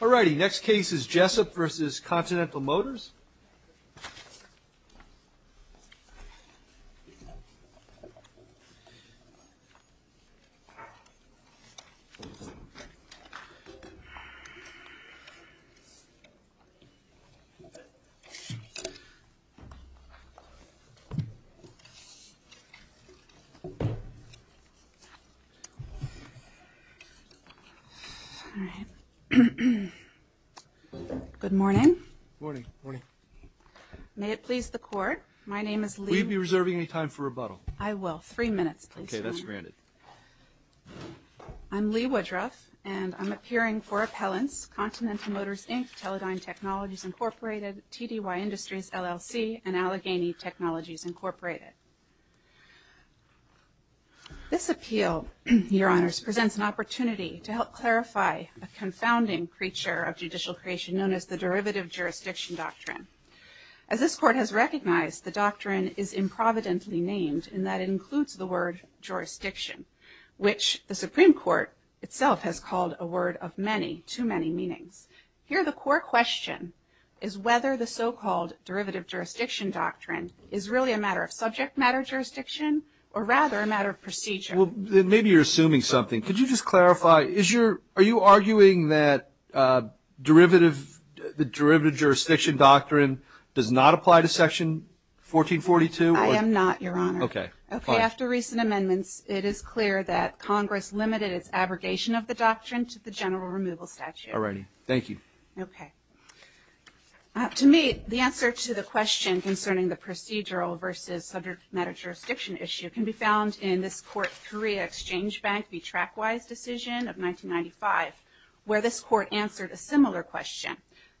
Alrighty, next case is Jessup v. Continental Motors. Good morning. Good morning. May it please the Court, my name is Leigh Woodruff. Will you be reserving any time for rebuttal? I will, three minutes please. Okay, that's granted. I'm Leigh Woodruff and I'm appearing for appellants, Continental Motors Inc., Teledyne Technologies Incorporated, TDY Industries LLC, and Allegheny Technologies Incorporated. This appeal, Your Honors, presents an opportunity to help clarify a confounding creature of judicial creation known as the derivative jurisdiction doctrine. As this Court has recognized, the doctrine is improvidently named in that it includes the word jurisdiction, which the Supreme Court itself has called a word of many, too many meanings. Here, the core question is whether the so-called derivative jurisdiction doctrine is really a matter of subject matter jurisdiction or rather a matter of procedure. Well, maybe you're assuming something. Could you just clarify, are you arguing that the derivative jurisdiction doctrine does not apply to Section 1442? I am not, Your Honor. Okay, fine. Okay, after recent amendments, it is clear that Congress limited its abrogation of the doctrine to the general removal statute. All righty, thank you. Okay. To me, the answer to the question concerning the procedural versus subject matter jurisdiction issue can be found in this Court 3, Exchange Bank v. Track Wise decision of 1995, where this Court answered a similar question.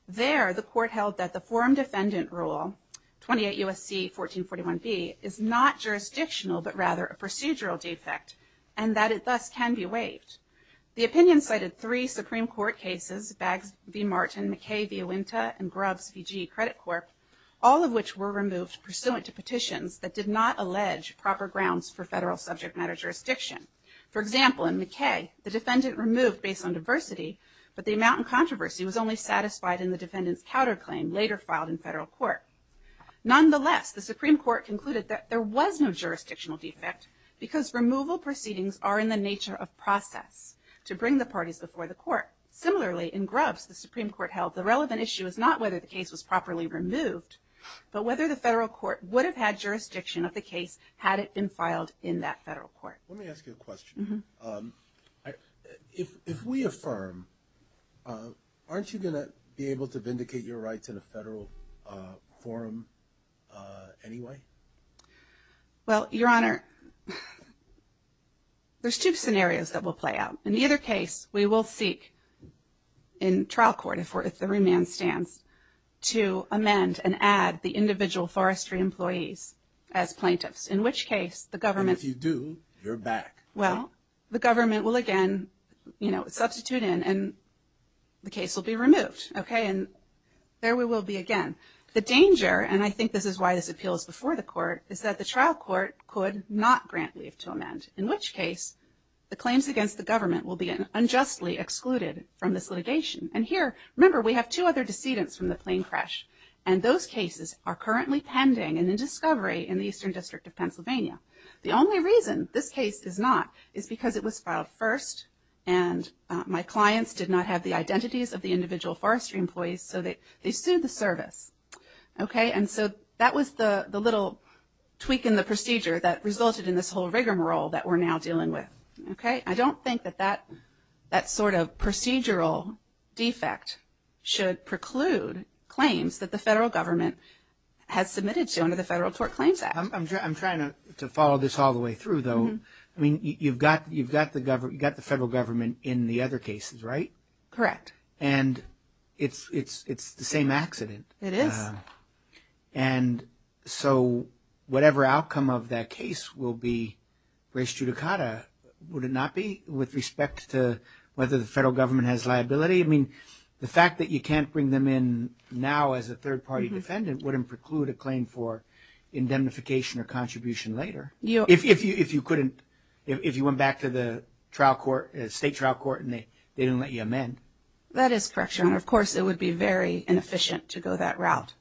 There, the Court held that the forum defendant rule, 28 U.S.C. 1441b, is not jurisdictional but rather a procedural defect and that it thus can be waived. The opinion cited three Supreme Court cases, Baggs v. Martin, McKay v. Uinta, and Grubbs v. G. Credit Corp., all of which were removed pursuant to petitions that did not allege proper grounds for federal subject matter jurisdiction. For example, in McKay, the defendant removed based on diversity, but the amount in controversy was only satisfied in the defendant's counterclaim later filed in federal court. Nonetheless, the Supreme Court concluded that there was no jurisdictional defect because removal proceedings are in the nature of process to bring the parties before the court. Similarly, in Grubbs, the Supreme Court held the relevant issue is not whether the case was properly removed, but whether the federal court would have had jurisdiction of the case had it been filed in that federal court. Let me ask you a question. If we affirm, aren't you going to be able to vindicate your rights in a federal forum anyway? Well, Your Honor, there's two scenarios that will play out. In either case, we will seek in trial court, if the remand stands, to amend and add the individual forestry employees as plaintiffs, in which case the government If you do, you're back. Well, the government will again, you know, substitute in and the case will be removed. Okay, and there we will be again. The danger, and I think this is why this appeals before the court, is that the trial court could not grant leave to amend, in which case the claims against the government will be unjustly excluded from this litigation. And here, remember, we have two other decedents from the plain crash, and those cases are currently pending and in discovery in the Eastern District of Pennsylvania. The only reason this case is not is because it was filed first, and my clients did not have the identities of the individual forestry employees, so they sued the service. Okay, and so that was the little tweak in the procedure that resulted in this whole rigmarole that we're now dealing with. Okay, I don't think that that sort of procedural defect should preclude claims that the federal government has submitted to under the Federal Tort Claims Act. I'm trying to follow this all the way through, though. I mean, you've got the federal government in the other cases, right? Correct. And it's the same accident. It is. And so whatever outcome of that case will be res judicata, would it not be with respect to whether the federal government has liability? I mean, the fact that you can't bring them in now as a third-party defendant wouldn't preclude a claim for indemnification or contribution later. If you couldn't, if you went back to the trial court, state trial court, and they didn't let you amend. That is correct, Your Honor. Of course, it would be very inefficient to go that route.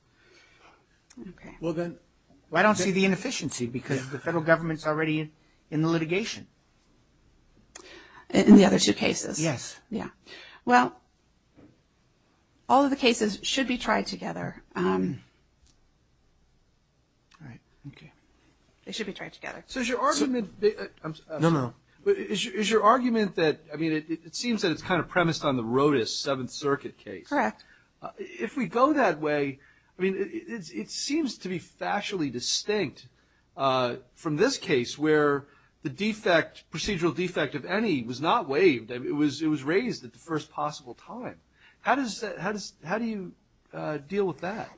Okay. Well, I don't see the inefficiency, because the federal government's already in the litigation. In the other two cases? Yes. Yeah. Well, all of the cases should be tried together. All right. Okay. They should be tried together. So is your argument that – No, no. But is your argument that – I mean, it seems that it's kind of premised on the Rodas Seventh Circuit case. Correct. If we go that way, I mean, it seems to be factually distinct from this case where the defect, procedural defect of any, was not waived. It was raised at the first possible time. How do you deal with that?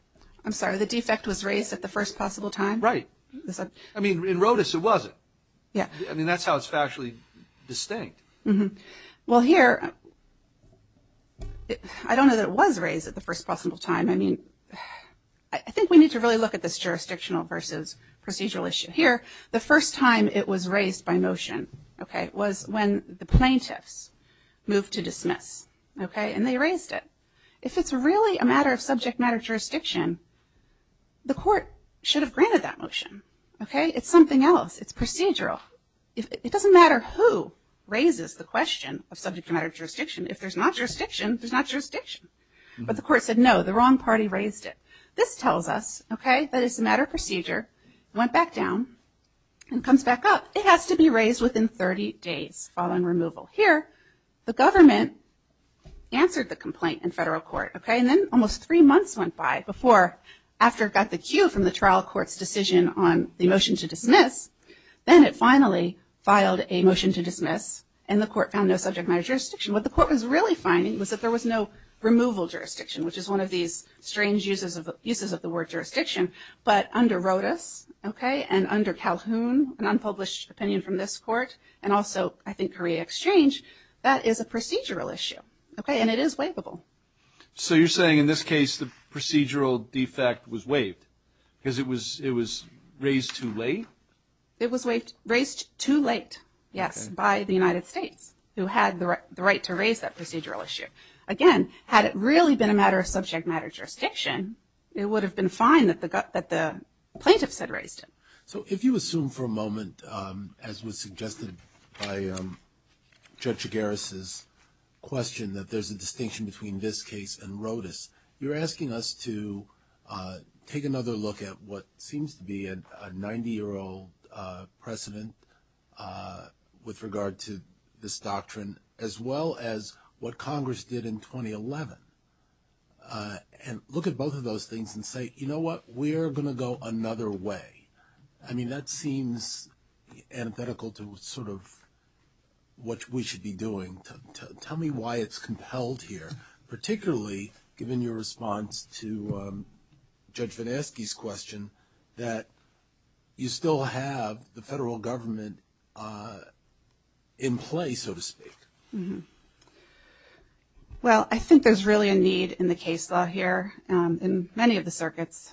I'm sorry. The defect was raised at the first possible time? Right. I mean, in Rodas, it wasn't. Yeah. I mean, that's how it's factually distinct. Well, here, I don't know that it was raised at the first possible time. I mean, I think we need to really look at this jurisdictional versus procedural issue. Here, the first time it was raised by motion, okay, was when the plaintiffs moved to dismiss. Okay? And they raised it. If it's really a matter of subject matter jurisdiction, the court should have granted that motion. Okay? It's something else. It's procedural. It doesn't matter who raises the question of subject matter jurisdiction. If there's not jurisdiction, there's not jurisdiction. But the court said, no, the wrong party raised it. This tells us, okay, that it's a matter of procedure, went back down, and comes back up. It has to be raised within 30 days following removal. Here, the government answered the complaint in federal court. Okay? And then almost three months went by before, after it got the cue from the trial court's decision on the motion to dismiss, then it finally filed a motion to dismiss, and the court found no subject matter jurisdiction. What the court was really finding was that there was no removal jurisdiction, which is one of these strange uses of the word jurisdiction. But under Rodas, okay, and under Calhoun, an unpublished opinion from this court, and also, I think, Korea Exchange, that is a procedural issue. Okay? And it is waivable. So you're saying in this case the procedural defect was waived because it was raised too late? It was raised too late, yes, by the United States, who had the right to raise that procedural issue. But, again, had it really been a matter of subject matter jurisdiction, it would have been fine that the plaintiffs had raised it. So if you assume for a moment, as was suggested by Judge Geras' question, that there's a distinction between this case and Rodas, you're asking us to take another look at what seems to be a 90-year-old precedent with regard to this doctrine, as well as what Congress did in 2011, and look at both of those things and say, you know what, we are going to go another way. I mean, that seems antithetical to sort of what we should be doing. Tell me why it's compelled here, particularly given your response to Judge Van Aske's question, that you still have the federal government in play, so to speak. Well, I think there's really a need in the case law here in many of the circuits,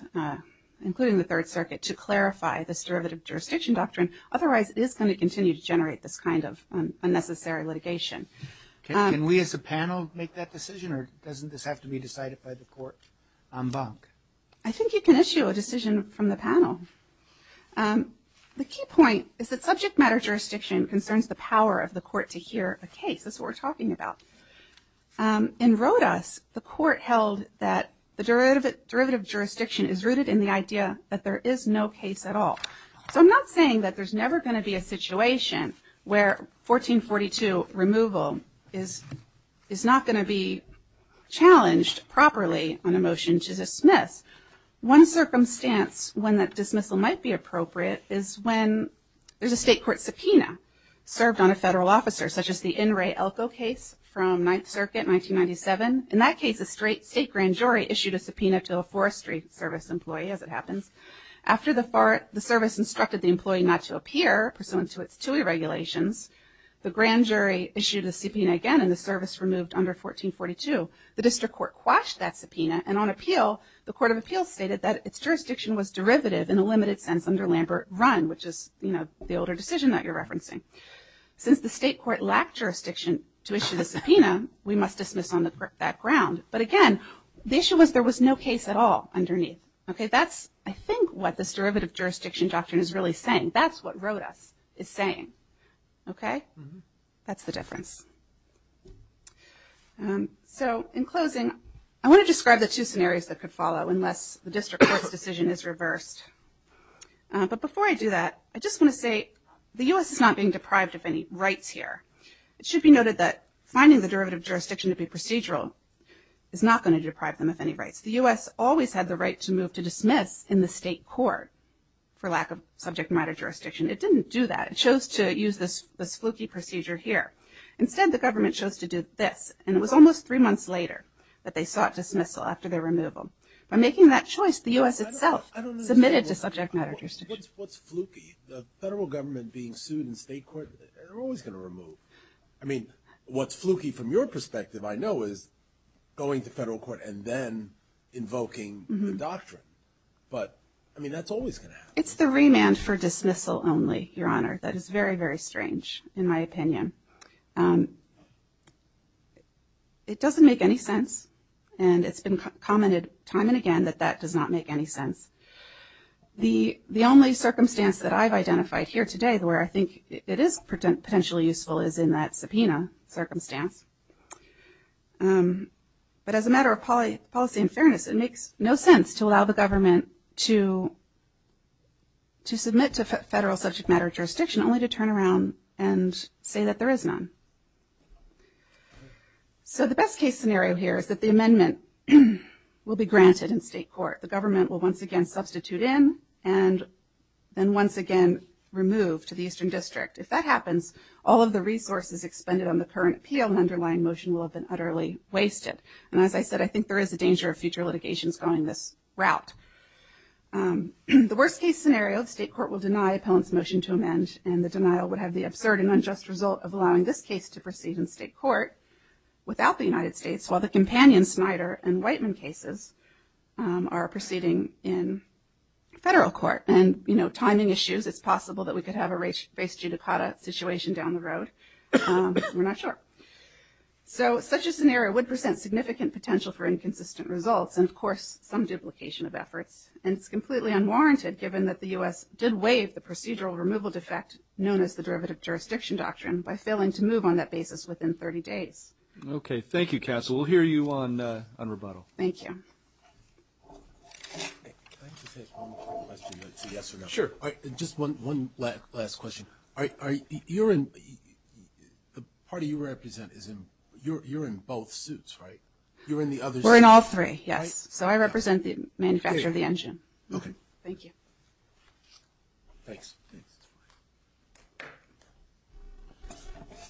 including the Third Circuit, to clarify this derivative jurisdiction doctrine. Otherwise, it is going to continue to generate this kind of unnecessary litigation. Can we as a panel make that decision, or doesn't this have to be decided by the court en banc? I think you can issue a decision from the panel. The key point is that subject matter jurisdiction concerns the power of the court to hear a case. That's what we're talking about. In Rodas, the court held that the derivative jurisdiction is rooted in the idea that there is no case at all. So I'm not saying that there's never going to be a situation where 1442 removal is not going to be challenged properly on a motion to dismiss. One circumstance when that dismissal might be appropriate is when there's a state court subpoena served on a federal officer, such as the N. Ray Elko case from Ninth Circuit, 1997. In that case, a state grand jury issued a subpoena to a Forestry Service employee, as it happens. After the service instructed the employee not to appear pursuant to its TUI regulations, the grand jury issued a subpoena again, and the service removed under 1442. The district court quashed that subpoena, and on appeal, the court of appeals stated that its jurisdiction was derivative in a limited sense under Lambert Run, which is the older decision that you're referencing. Since the state court lacked jurisdiction to issue the subpoena, we must dismiss on that ground. But again, the issue was there was no case at all underneath. Okay, that's, I think, what this derivative jurisdiction doctrine is really saying. That's what Rodas is saying. Okay? That's the difference. So, in closing, I want to describe the two scenarios that could follow unless the district court's decision is reversed. But before I do that, I just want to say the U.S. is not being deprived of any rights here. It should be noted that finding the derivative jurisdiction to be procedural is not going to deprive them of any rights. The U.S. always had the right to move to dismiss in the state court for lack of subject matter jurisdiction. It didn't do that. It chose to use this fluky procedure here. Instead, the government chose to do this, and it was almost three months later that they sought dismissal after their removal. By making that choice, the U.S. itself submitted to subject matter jurisdiction. What's fluky? The federal government being sued in state court? They're always going to remove. I mean, what's fluky from your perspective I know is going to federal court and then invoking the doctrine. But, I mean, that's always going to happen. It's the remand for dismissal only, Your Honor. That is very, very strange in my opinion. It doesn't make any sense, and it's been commented time and again that that does not make any sense. The only circumstance that I've identified here today where I think it is potentially useful is in that subpoena circumstance. But as a matter of policy and fairness, it makes no sense to allow the government to submit to federal subject matter jurisdiction only to turn around and say that there is none. So the best case scenario here is that the amendment will be granted in state court. The government will once again substitute in and then once again remove to the Eastern District. If that happens, all of the resources expended on the current appeal and underlying motion will have been utterly wasted. And as I said, I think there is a danger of future litigations going this route. The worst case scenario, the state court will deny appellant's motion to amend and the denial would have the absurd and unjust result of allowing this case to proceed in state court without the United States while the companion Snyder and Whiteman cases are proceeding in federal court. And, you know, timing issues. It's possible that we could have a race judicata situation down the road. We're not sure. So such a scenario would present significant potential for inconsistent results and, of course, some duplication of efforts. And it's completely unwarranted given that the U.S. did waive the procedural removal defect known as the derivative jurisdiction doctrine by failing to move on that basis within 30 days. Okay. Thank you, Cass. We'll hear you on rebuttal. Thank you. Can I just ask one more question? Yes or no? Sure. Just one last question. You're in the party you represent, you're in both suits, right? You're in the other suit? We're in all three, yes. So I represent the manufacturer of the engine. Okay. Thank you. Thanks. Thanks.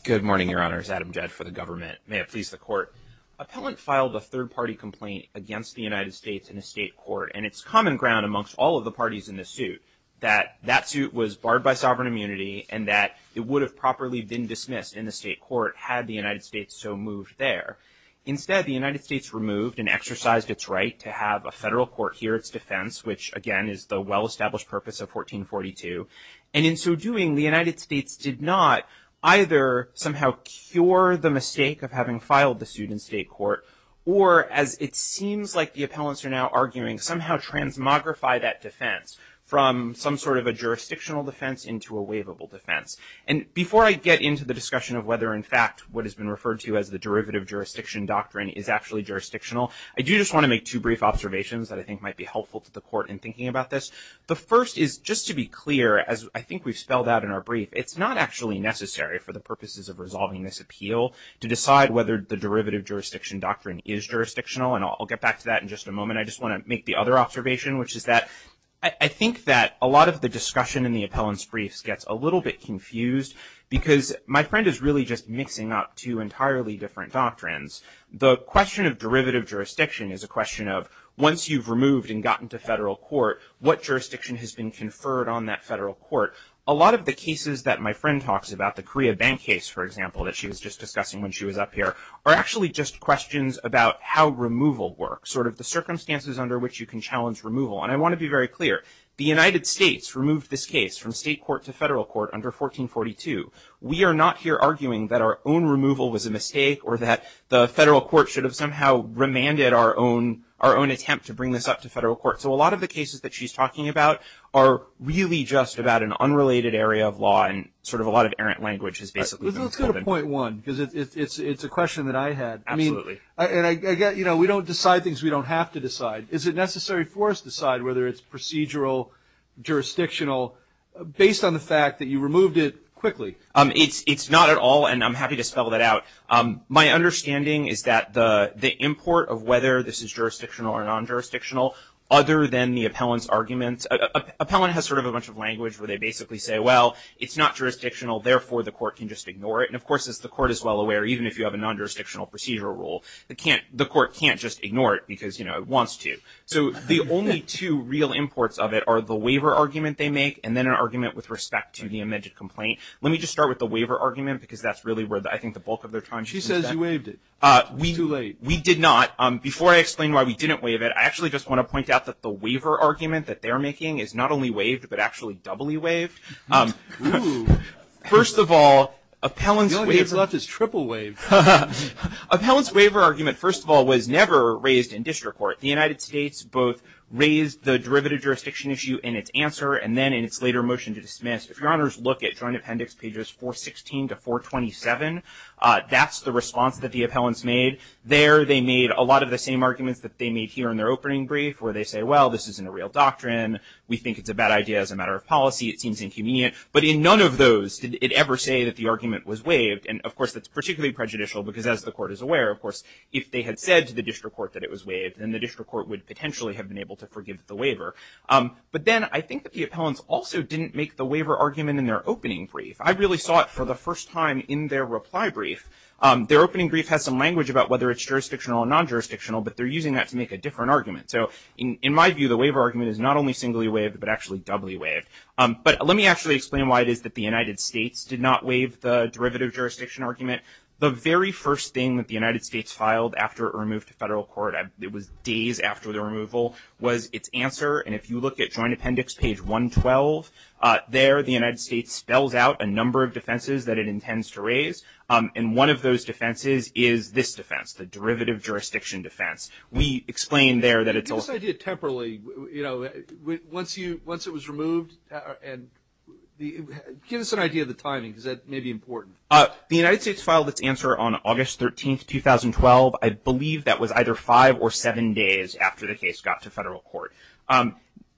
Good morning, Your Honors. Adam Jett for the government. May it please the court. Appellant filed a third-party complaint against the United States in a state court, and it's common ground amongst all of the parties in the suit that that suit was barred by sovereign immunity and that it would have properly been dismissed in the state court had the United States so moved there. Instead, the United States removed and exercised its right to have a federal court hear its defense, which, again, is the well-established purpose of 1442. And in so doing, the United States did not either somehow cure the mistake of having filed the suit in state court or, as it seems like the appellants are now arguing, somehow transmogrify that defense from some sort of a jurisdictional defense into a waivable defense. And before I get into the discussion of whether, in fact, what has been referred to as the derivative jurisdiction doctrine is actually jurisdictional, I do just want to make two brief observations that I think might be helpful to the court in thinking about this. The first is just to be clear, as I think we've spelled out in our brief, it's not actually necessary for the purposes of resolving this appeal to decide whether the derivative jurisdiction doctrine is jurisdictional. And I'll get back to that in just a moment. I just want to make the other observation, which is that I think that a lot of the discussion in the appellants' briefs gets a little bit confused because my friend is really just mixing up two entirely different doctrines. The question of derivative jurisdiction is a question of once you've removed and gotten to federal court, what jurisdiction has been conferred on that federal court? A lot of the cases that my friend talks about, the Korea Bank case, for example, that she was just discussing when she was up here, are actually just questions about how removal works, sort of the circumstances under which you can challenge removal. And I want to be very clear. The United States removed this case from state court to federal court under 1442. We are not here arguing that our own removal was a mistake or that the federal court should have somehow remanded our own attempt to bring this up to federal court. So a lot of the cases that she's talking about are really just about an unrelated area of law and sort of a lot of errant language has basically been covered. Let's go to point one because it's a question that I had. Absolutely. And I get, you know, we don't decide things we don't have to decide. Is it necessary for us to decide whether it's procedural, jurisdictional, based on the fact that you removed it quickly? It's not at all, and I'm happy to spell that out. My understanding is that the import of whether this is jurisdictional or non-jurisdictional, other than the appellant's argument, appellant has sort of a bunch of language where they basically say, well, it's not jurisdictional, therefore the court can just ignore it. And, of course, the court is well aware, even if you have a non-jurisdictional procedural rule, the court can't just ignore it because, you know, it wants to. So the only two real imports of it are the waiver argument they make and then an argument with respect to the amended complaint. Let me just start with the waiver argument because that's really where I think the bulk of their time. She says you waived it. Too late. We did not. Before I explain why we didn't waive it, I actually just want to point out that the waiver argument that they're making is not only waived, but actually doubly waived. First of all, appellant's waiver. The only thing that's left is triple waived. Appellant's waiver argument, first of all, was never raised in district court. The United States both raised the derivative jurisdiction issue in its answer and then in its later motion to dismiss. If your honors look at Joint Appendix pages 416 to 427, that's the response that the appellants made. There they made a lot of the same arguments that they made here in their opening brief where they say, well, this isn't a real doctrine. We think it's a bad idea as a matter of policy. It seems inconvenient. But in none of those did it ever say that the argument was waived. And, of course, that's particularly prejudicial because as the court is aware, of course, if they had said to the district court that it was waived, then the district court would potentially have been able to forgive the waiver. But then I think that the appellants also didn't make the waiver argument in their opening brief. I really saw it for the first time in their reply brief. Their opening brief has some language about whether it's jurisdictional or non-jurisdictional, but they're using that to make a different argument. So in my view, the waiver argument is not only singly waived but actually doubly waived. But let me actually explain why it is that the United States did not waive the derivative jurisdiction argument. The very first thing that the United States filed after it removed the federal court, it was days after the removal, was its answer. And if you look at Joint Appendix page 112, there the United States spells out a number of defenses that it intends to raise. And one of those defenses is this defense, the derivative jurisdiction defense. We explain there that it's a- Give us an idea temporarily. Once it was removed, give us an idea of the timing because that may be important. The United States filed its answer on August 13, 2012. I believe that was either five or seven days after the case got to federal court.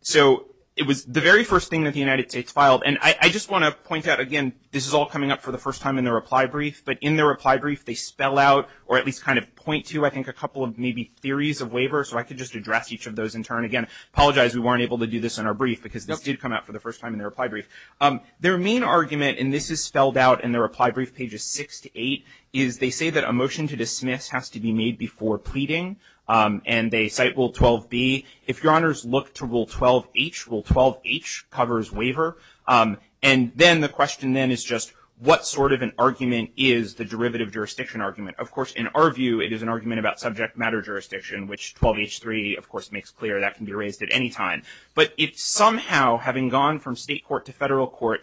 So it was the very first thing that the United States filed. And I just want to point out, again, this is all coming up for the first time in the reply brief. But in the reply brief, they spell out or at least kind of point to, I think, a couple of maybe theories of waiver. So I could just address each of those in turn. Again, I apologize we weren't able to do this in our brief because this did come up for the first time in the reply brief. Their main argument, and this is spelled out in the reply brief pages six to eight, is they say that a motion to dismiss has to be made before pleading. And they cite Rule 12B. If Your Honors look to Rule 12H, Rule 12H covers waiver. And then the question then is just what sort of an argument is the derivative jurisdiction argument? Of course, in our view, it is an argument about subject matter jurisdiction, which 12H3, of course, makes clear. That can be raised at any time. But it somehow, having gone from state court to federal court,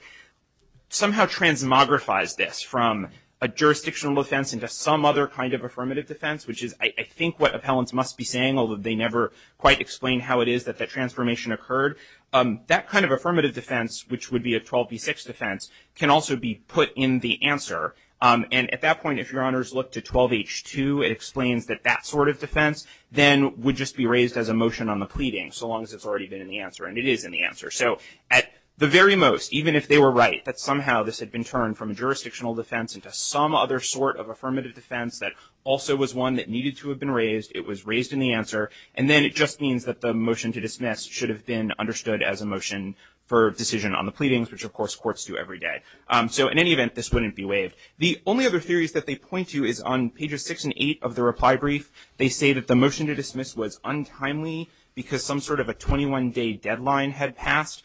somehow transmogrifies this from a jurisdictional defense into some other kind of affirmative defense, which is, I think, what appellants must be saying, although they never quite explain how it is that that transformation occurred. That kind of affirmative defense, which would be a 12B6 defense, can also be put in the answer. And at that point, if Your Honors look to 12H2, it explains that that sort of defense then would just be raised as a motion on the pleading, so long as it's already been in the answer. And it is in the answer. So at the very most, even if they were right, that somehow this had been turned from a jurisdictional defense into some other sort of affirmative defense that also was one that needed to have been raised. It was raised in the answer. And then it just means that the motion to dismiss should have been understood as a motion for decision on the pleadings, which, of course, courts do every day. So in any event, this wouldn't be waived. The only other theories that they point to is on pages 6 and 8 of the reply brief. They say that the motion to dismiss was untimely because some sort of a 21-day deadline had passed.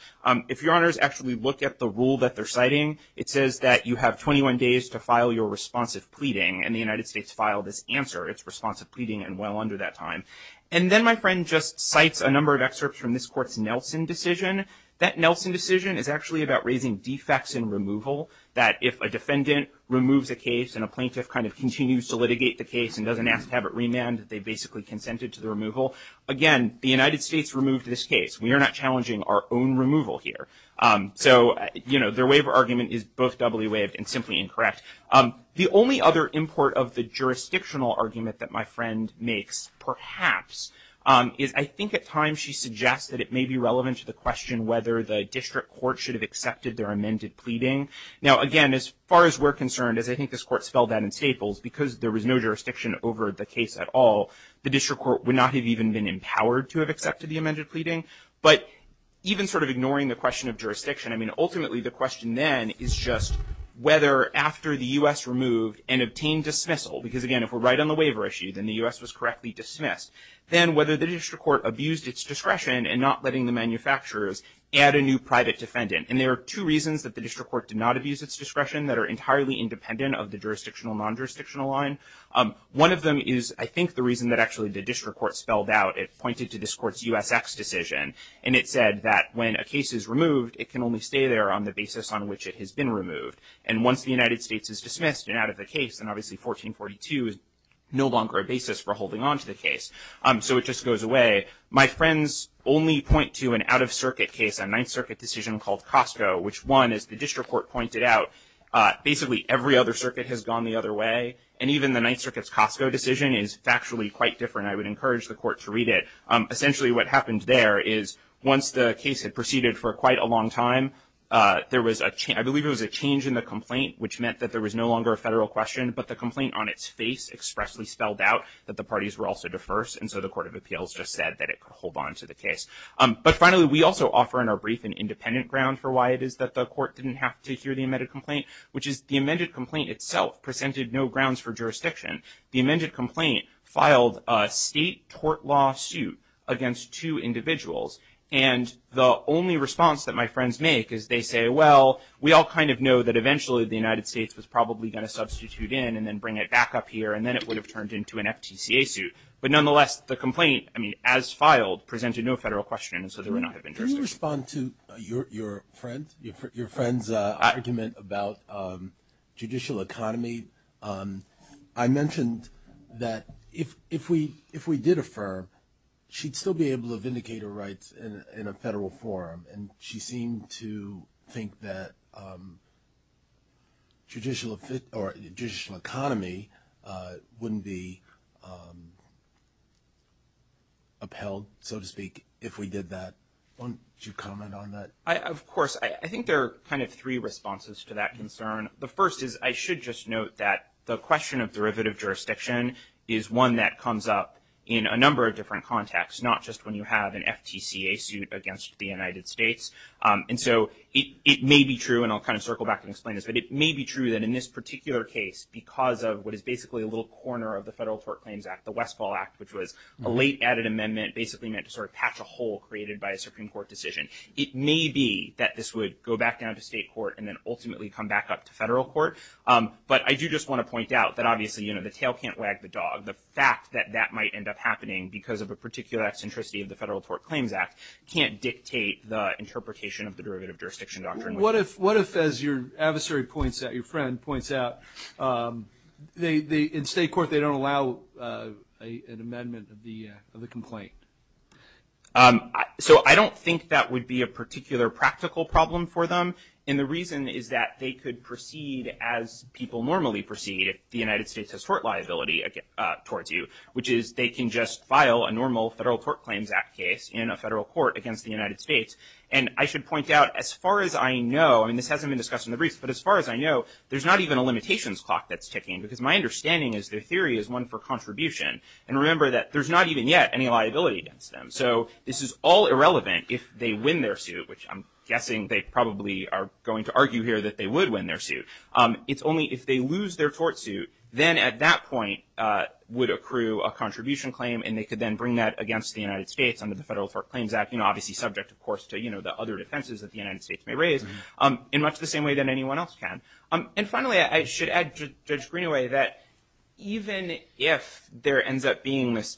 If Your Honors actually look at the rule that they're citing, it says that you have 21 days to file your responsive pleading, and the United States filed this answer. It's responsive pleading and well under that time. And then my friend just cites a number of excerpts from this court's Nelson decision. That Nelson decision is actually about raising defects in removal, that if a defendant removes a case and a plaintiff kind of continues to litigate the case and doesn't ask to have it remand, that they basically consented to the removal. Again, the United States removed this case. We are not challenging our own removal here. So, you know, their waiver argument is both doubly waived and simply incorrect. The only other import of the jurisdictional argument that my friend makes, perhaps, is I think at times she suggests that it may be relevant to the question whether the district court should have accepted their amended pleading. Now, again, as far as we're concerned, as I think this court spelled that in Staples, because there was no jurisdiction over the case at all, the district court would not have even been empowered to have accepted the amended pleading. But even sort of ignoring the question of jurisdiction, I mean, ultimately, the question then is just whether after the U.S. removed and obtained dismissal, because, again, if we're right on the waiver issue, then the U.S. was correctly dismissed, then whether the district court abused its discretion in not letting the manufacturers add a new private defendant. And there are two reasons that the district court did not abuse its discretion that are entirely independent of the jurisdictional, non-jurisdictional line. One of them is, I think, the reason that actually the district court spelled out. It pointed to this court's USX decision, and it said that when a case is removed, it can only stay there on the basis on which it has been removed. And once the United States is dismissed and out of the case, then obviously 1442 is no longer a basis for holding on to the case. So it just goes away. My friends only point to an out-of-circuit case, a Ninth Circuit decision called Costco, which one, as the district court pointed out, basically every other circuit has gone the other way. And even the Ninth Circuit's Costco decision is factually quite different. And I would encourage the court to read it. Essentially what happened there is once the case had proceeded for quite a long time, there was a change. I believe it was a change in the complaint, which meant that there was no longer a federal question, but the complaint on its face expressly spelled out that the parties were also diverse. And so the Court of Appeals just said that it could hold on to the case. But finally, we also offer in our brief an independent ground for why it is that the court didn't have to hear the amended complaint, which is the amended complaint itself presented no grounds for jurisdiction. The amended complaint filed a state tort lawsuit against two individuals. And the only response that my friends make is they say, well, we all kind of know that eventually the United States was probably going to substitute in and then bring it back up here, and then it would have turned into an FTCA suit. But nonetheless, the complaint, I mean, as filed, presented no federal question, and so there would not have been jurisdiction. Can you respond to your friend's argument about judicial economy? I mentioned that if we did affirm, she'd still be able to vindicate her rights in a federal forum, and she seemed to think that judicial economy wouldn't be upheld, so to speak, if we did that. Won't you comment on that? Of course. I think there are kind of three responses to that concern. The first is I should just note that the question of derivative jurisdiction is one that comes up in a number of different contexts, not just when you have an FTCA suit against the United States. And so it may be true, and I'll kind of circle back and explain this, but it may be true that in this particular case, because of what is basically a little corner of the Federal Tort Claims Act, the Westfall Act, which was a late added amendment, basically meant to sort of patch a hole created by a Supreme Court decision. It may be that this would go back down to state court and then ultimately come back up to federal court, but I do just want to point out that obviously, you know, the tail can't wag the dog. The fact that that might end up happening because of a particular eccentricity of the Federal Tort Claims Act can't dictate the interpretation of the derivative jurisdiction doctrine. What if, as your adversary points out, your friend points out, in state court, they don't allow an amendment of the complaint? So I don't think that would be a particular practical problem for them. And the reason is that they could proceed as people normally proceed if the United States has tort liability towards you, which is they can just file a normal Federal Tort Claims Act case in a federal court against the United States. And I should point out, as far as I know, and this hasn't been discussed in the briefs, but as far as I know, there's not even a limitations clock that's ticking, because my understanding is their theory is one for contribution. And remember that there's not even yet any liability against them. So this is all irrelevant if they win their suit, which I'm guessing they probably are going to argue here that they would win their suit. It's only if they lose their tort suit, then at that point would accrue a contribution claim, and they could then bring that against the United States under the Federal Tort Claims Act, you know, obviously subject, of course, to, you know, the other defenses that the United States may raise, in much the same way that anyone else can. And finally, I should add, Judge Greenaway, that even if there ends up being this,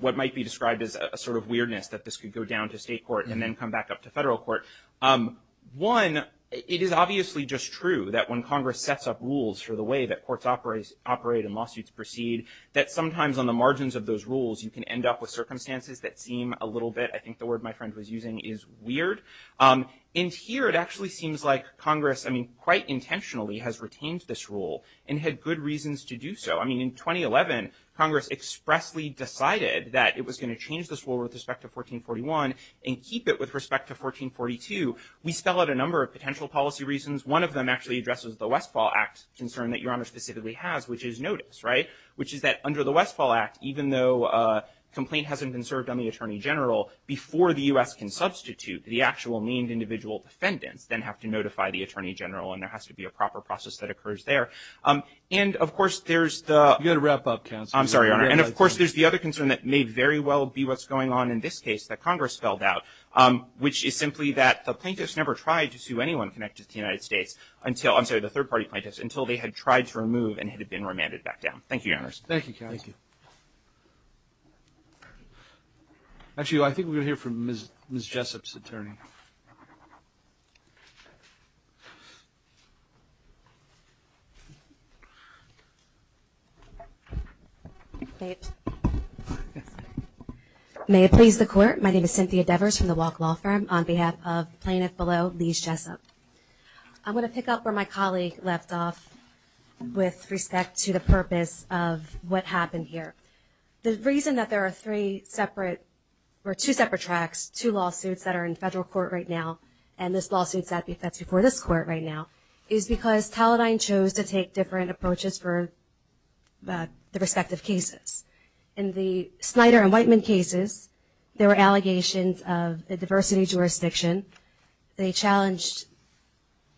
what might be described as a sort of weirdness that this could go down to state court and then come back up to federal court, one, it is obviously just true that when Congress sets up rules for the way that courts operate and lawsuits proceed, that sometimes on the margins of those rules, you can end up with circumstances that seem a little bit, I think the word my friend was using, is weird. And here it actually seems like Congress, I mean, quite intentionally has retained this rule and had good reasons to do so. I mean, in 2011, Congress expressly decided that it was going to change this rule with respect to 1441 and keep it with respect to 1442. We spell out a number of potential policy reasons. One of them actually addresses the Westfall Act concern that Your Honor specifically has, which is notice, right, which is that under the Westfall Act, even though a complaint hasn't been served on the Attorney General, before the U.S. can substitute the actual named individual defendants, then have to notify the Attorney General and there has to be a proper process that occurs there. And, of course, there's the – You've got to wrap up, counsel. I'm sorry, Your Honor. And, of course, there's the other concern that may very well be what's going on in this case that Congress spelled out, which is simply that the plaintiffs never tried to sue anyone connected to the United States until, I'm sorry, the third party plaintiffs, Thank you, Your Honors. Thank you, counsel. Thank you. Actually, I think we're going to hear from Ms. Jessup's attorney. May it please the Court. My name is Cynthia Devers from the Walk Law Firm on behalf of Plaintiff Below, Lise Jessup. I'm going to pick up where my colleague left off with respect to the purpose of what happened here. The reason that there are three separate – or two separate tracks, two lawsuits that are in federal court right now, and this lawsuit that's before this court right now, is because Taladine chose to take different approaches for the respective cases. In the Snyder and Whiteman cases, there were allegations of a diversity jurisdiction. They challenged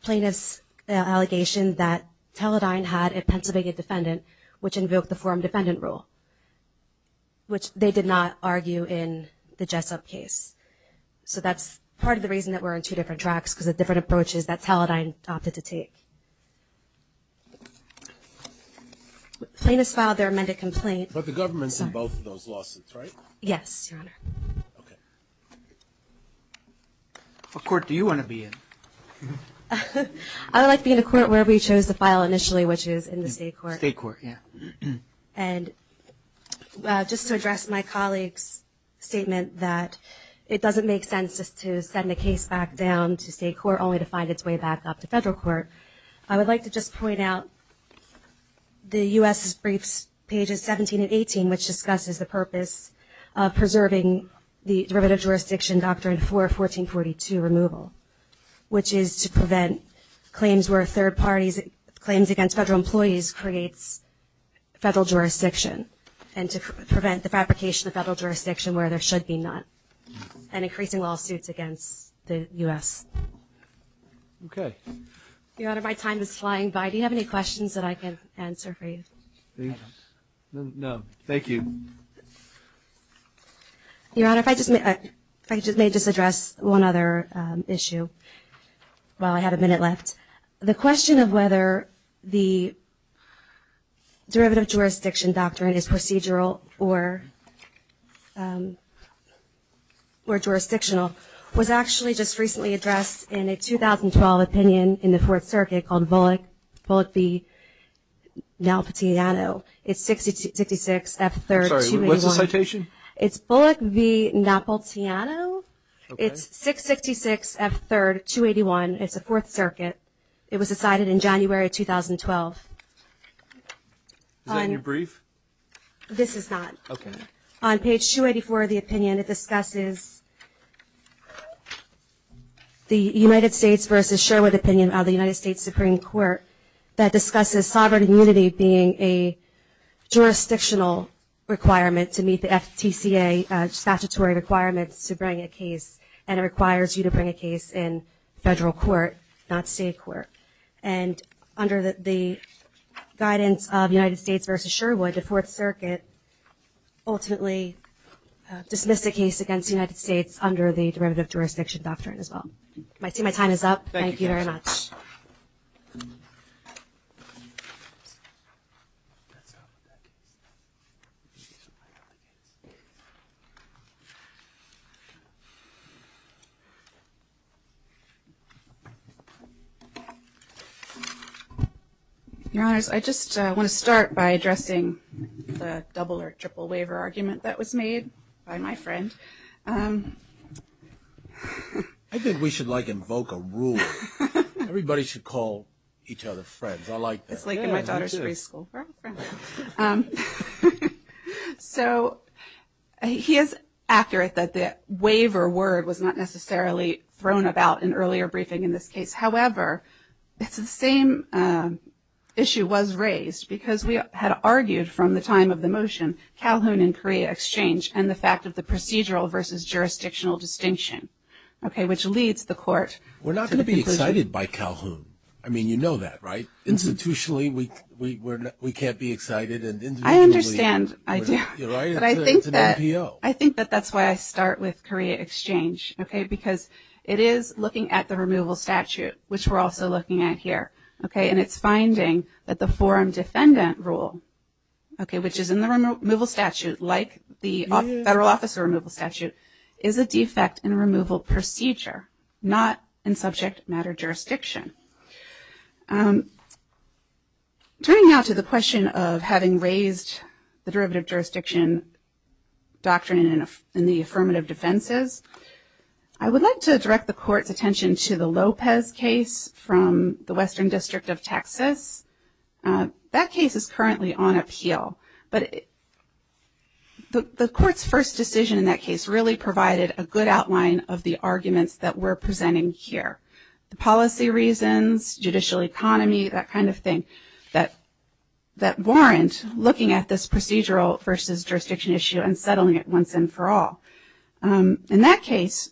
plaintiff's allegation that Taladine had a Pennsylvania defendant, which invoked the forum defendant rule, which they did not argue in the Jessup case. So that's part of the reason that we're on two different tracks, because of different approaches that Taladine opted to take. Plaintiffs filed their amended complaint. But the government's in both of those lawsuits, right? Yes, Your Honor. Okay. What court do you want to be in? I would like to be in a court where we chose to file initially, which is in the state court. State court, yeah. And just to address my colleague's statement that it doesn't make sense just to send a case back down to state court, only to find its way back up to federal court, I would like to just point out the U.S.'s briefs, pages 17 and 18, which discusses the purpose of preserving the derivative jurisdiction doctrine for 1442 removal, which is to prevent claims against federal employees creates federal jurisdiction, and to prevent the fabrication of federal jurisdiction where there should be none, and increasing lawsuits against the U.S. Okay. Your Honor, my time is flying by. Do you have any questions that I can answer for you? No. Thank you. Your Honor, if I may just address one other issue while I have a minute left. The question of whether the derivative jurisdiction doctrine is procedural or jurisdictional was actually just recently addressed in a 2012 opinion in the Fourth Circuit called Bullock v. Napolitano. It's 666 F3 281. Sorry, what's the citation? It's Bullock v. Napolitano. Okay. It's 666 F3 281. It's the Fourth Circuit. It was decided in January 2012. Is that your brief? This is not. Okay. On page 284 of the opinion, it discusses the United States v. Sherwood opinion of the United States Supreme Court that discusses sovereign immunity being a jurisdictional requirement to meet the FTCA statutory requirements to bring a case, and it requires you to bring a case in federal court, not state court. And under the guidance of the United States v. Sherwood, the Fourth Circuit ultimately dismissed the case against the United States under the derivative jurisdiction doctrine as well. I see my time is up. Thank you very much. Your Honors, I just want to start by addressing the double or triple waiver argument that was made by my friend. I think we should, like, invoke a rule. Everybody should call each other friends. I like that. It's like in my daughter's preschool program. So he is accurate that the waiver word was not necessarily thrown about in earlier briefing in this case. However, it's the same issue was raised because we had argued from the time of the motion, Calhoun and Korea Exchange, and the fact of the procedural v. jurisdictional distinction, okay, which leads the court to the conclusion. We're not going to be excited by Calhoun. I mean, you know that, right? Institutionally, we can't be excited. I understand. You're right. It's an NPO. I think that that's why I start with Korea Exchange, okay, because it is looking at the removal statute, which we're also looking at here, okay, and it's finding that the forum defendant rule, okay, which is in the removal statute like the federal officer removal statute, is a defect in removal procedure, not in subject matter jurisdiction. Turning now to the question of having raised the derivative jurisdiction doctrine in the affirmative defenses, I would like to direct the court's attention to the Lopez case from the Western District of Texas. That case is currently on appeal, but the court's first decision in that case really provided a good outline of the arguments that we're presenting here. The policy reasons, judicial economy, that kind of thing that warrant looking at this procedural versus jurisdiction issue and settling it once and for all. In that case,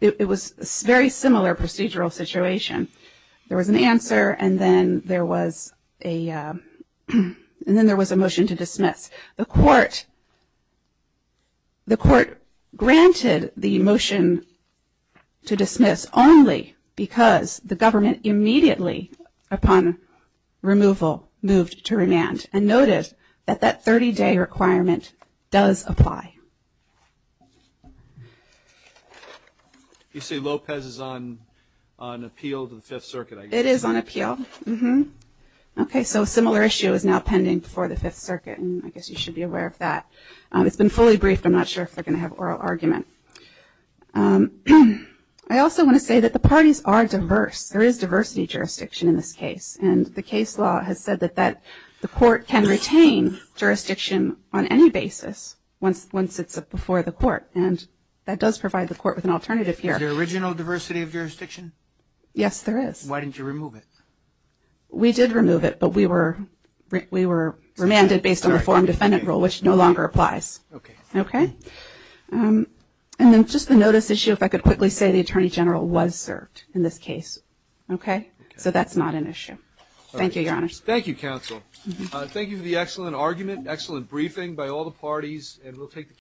it was a very similar procedural situation. There was an answer, and then there was a motion to dismiss. The court granted the motion to dismiss only because the government immediately upon removal moved to remand and noted that that 30-day requirement does apply. You say Lopez is on appeal to the Fifth Circuit, I guess. Okay, so a similar issue is now pending before the Fifth Circuit, and I guess you should be aware of that. It's been fully briefed. I'm not sure if they're going to have oral argument. I also want to say that the parties are diverse. There is diversity jurisdiction in this case, and the case law has said that the court can retain jurisdiction on any basis once it's before the court, and that does provide the court with an alternative here. Is there original diversity of jurisdiction? Yes, there is. Why didn't you remove it? We did remove it, but we were remanded based on the forum defendant rule, which no longer applies. Okay. Okay? And then just the notice issue, if I could quickly say the Attorney General was served in this case. Okay? Okay. So that's not an issue. Thank you, Your Honor. Thank you, counsel. Thank you for the excellent argument, excellent briefing by all the parties, and we'll take the case.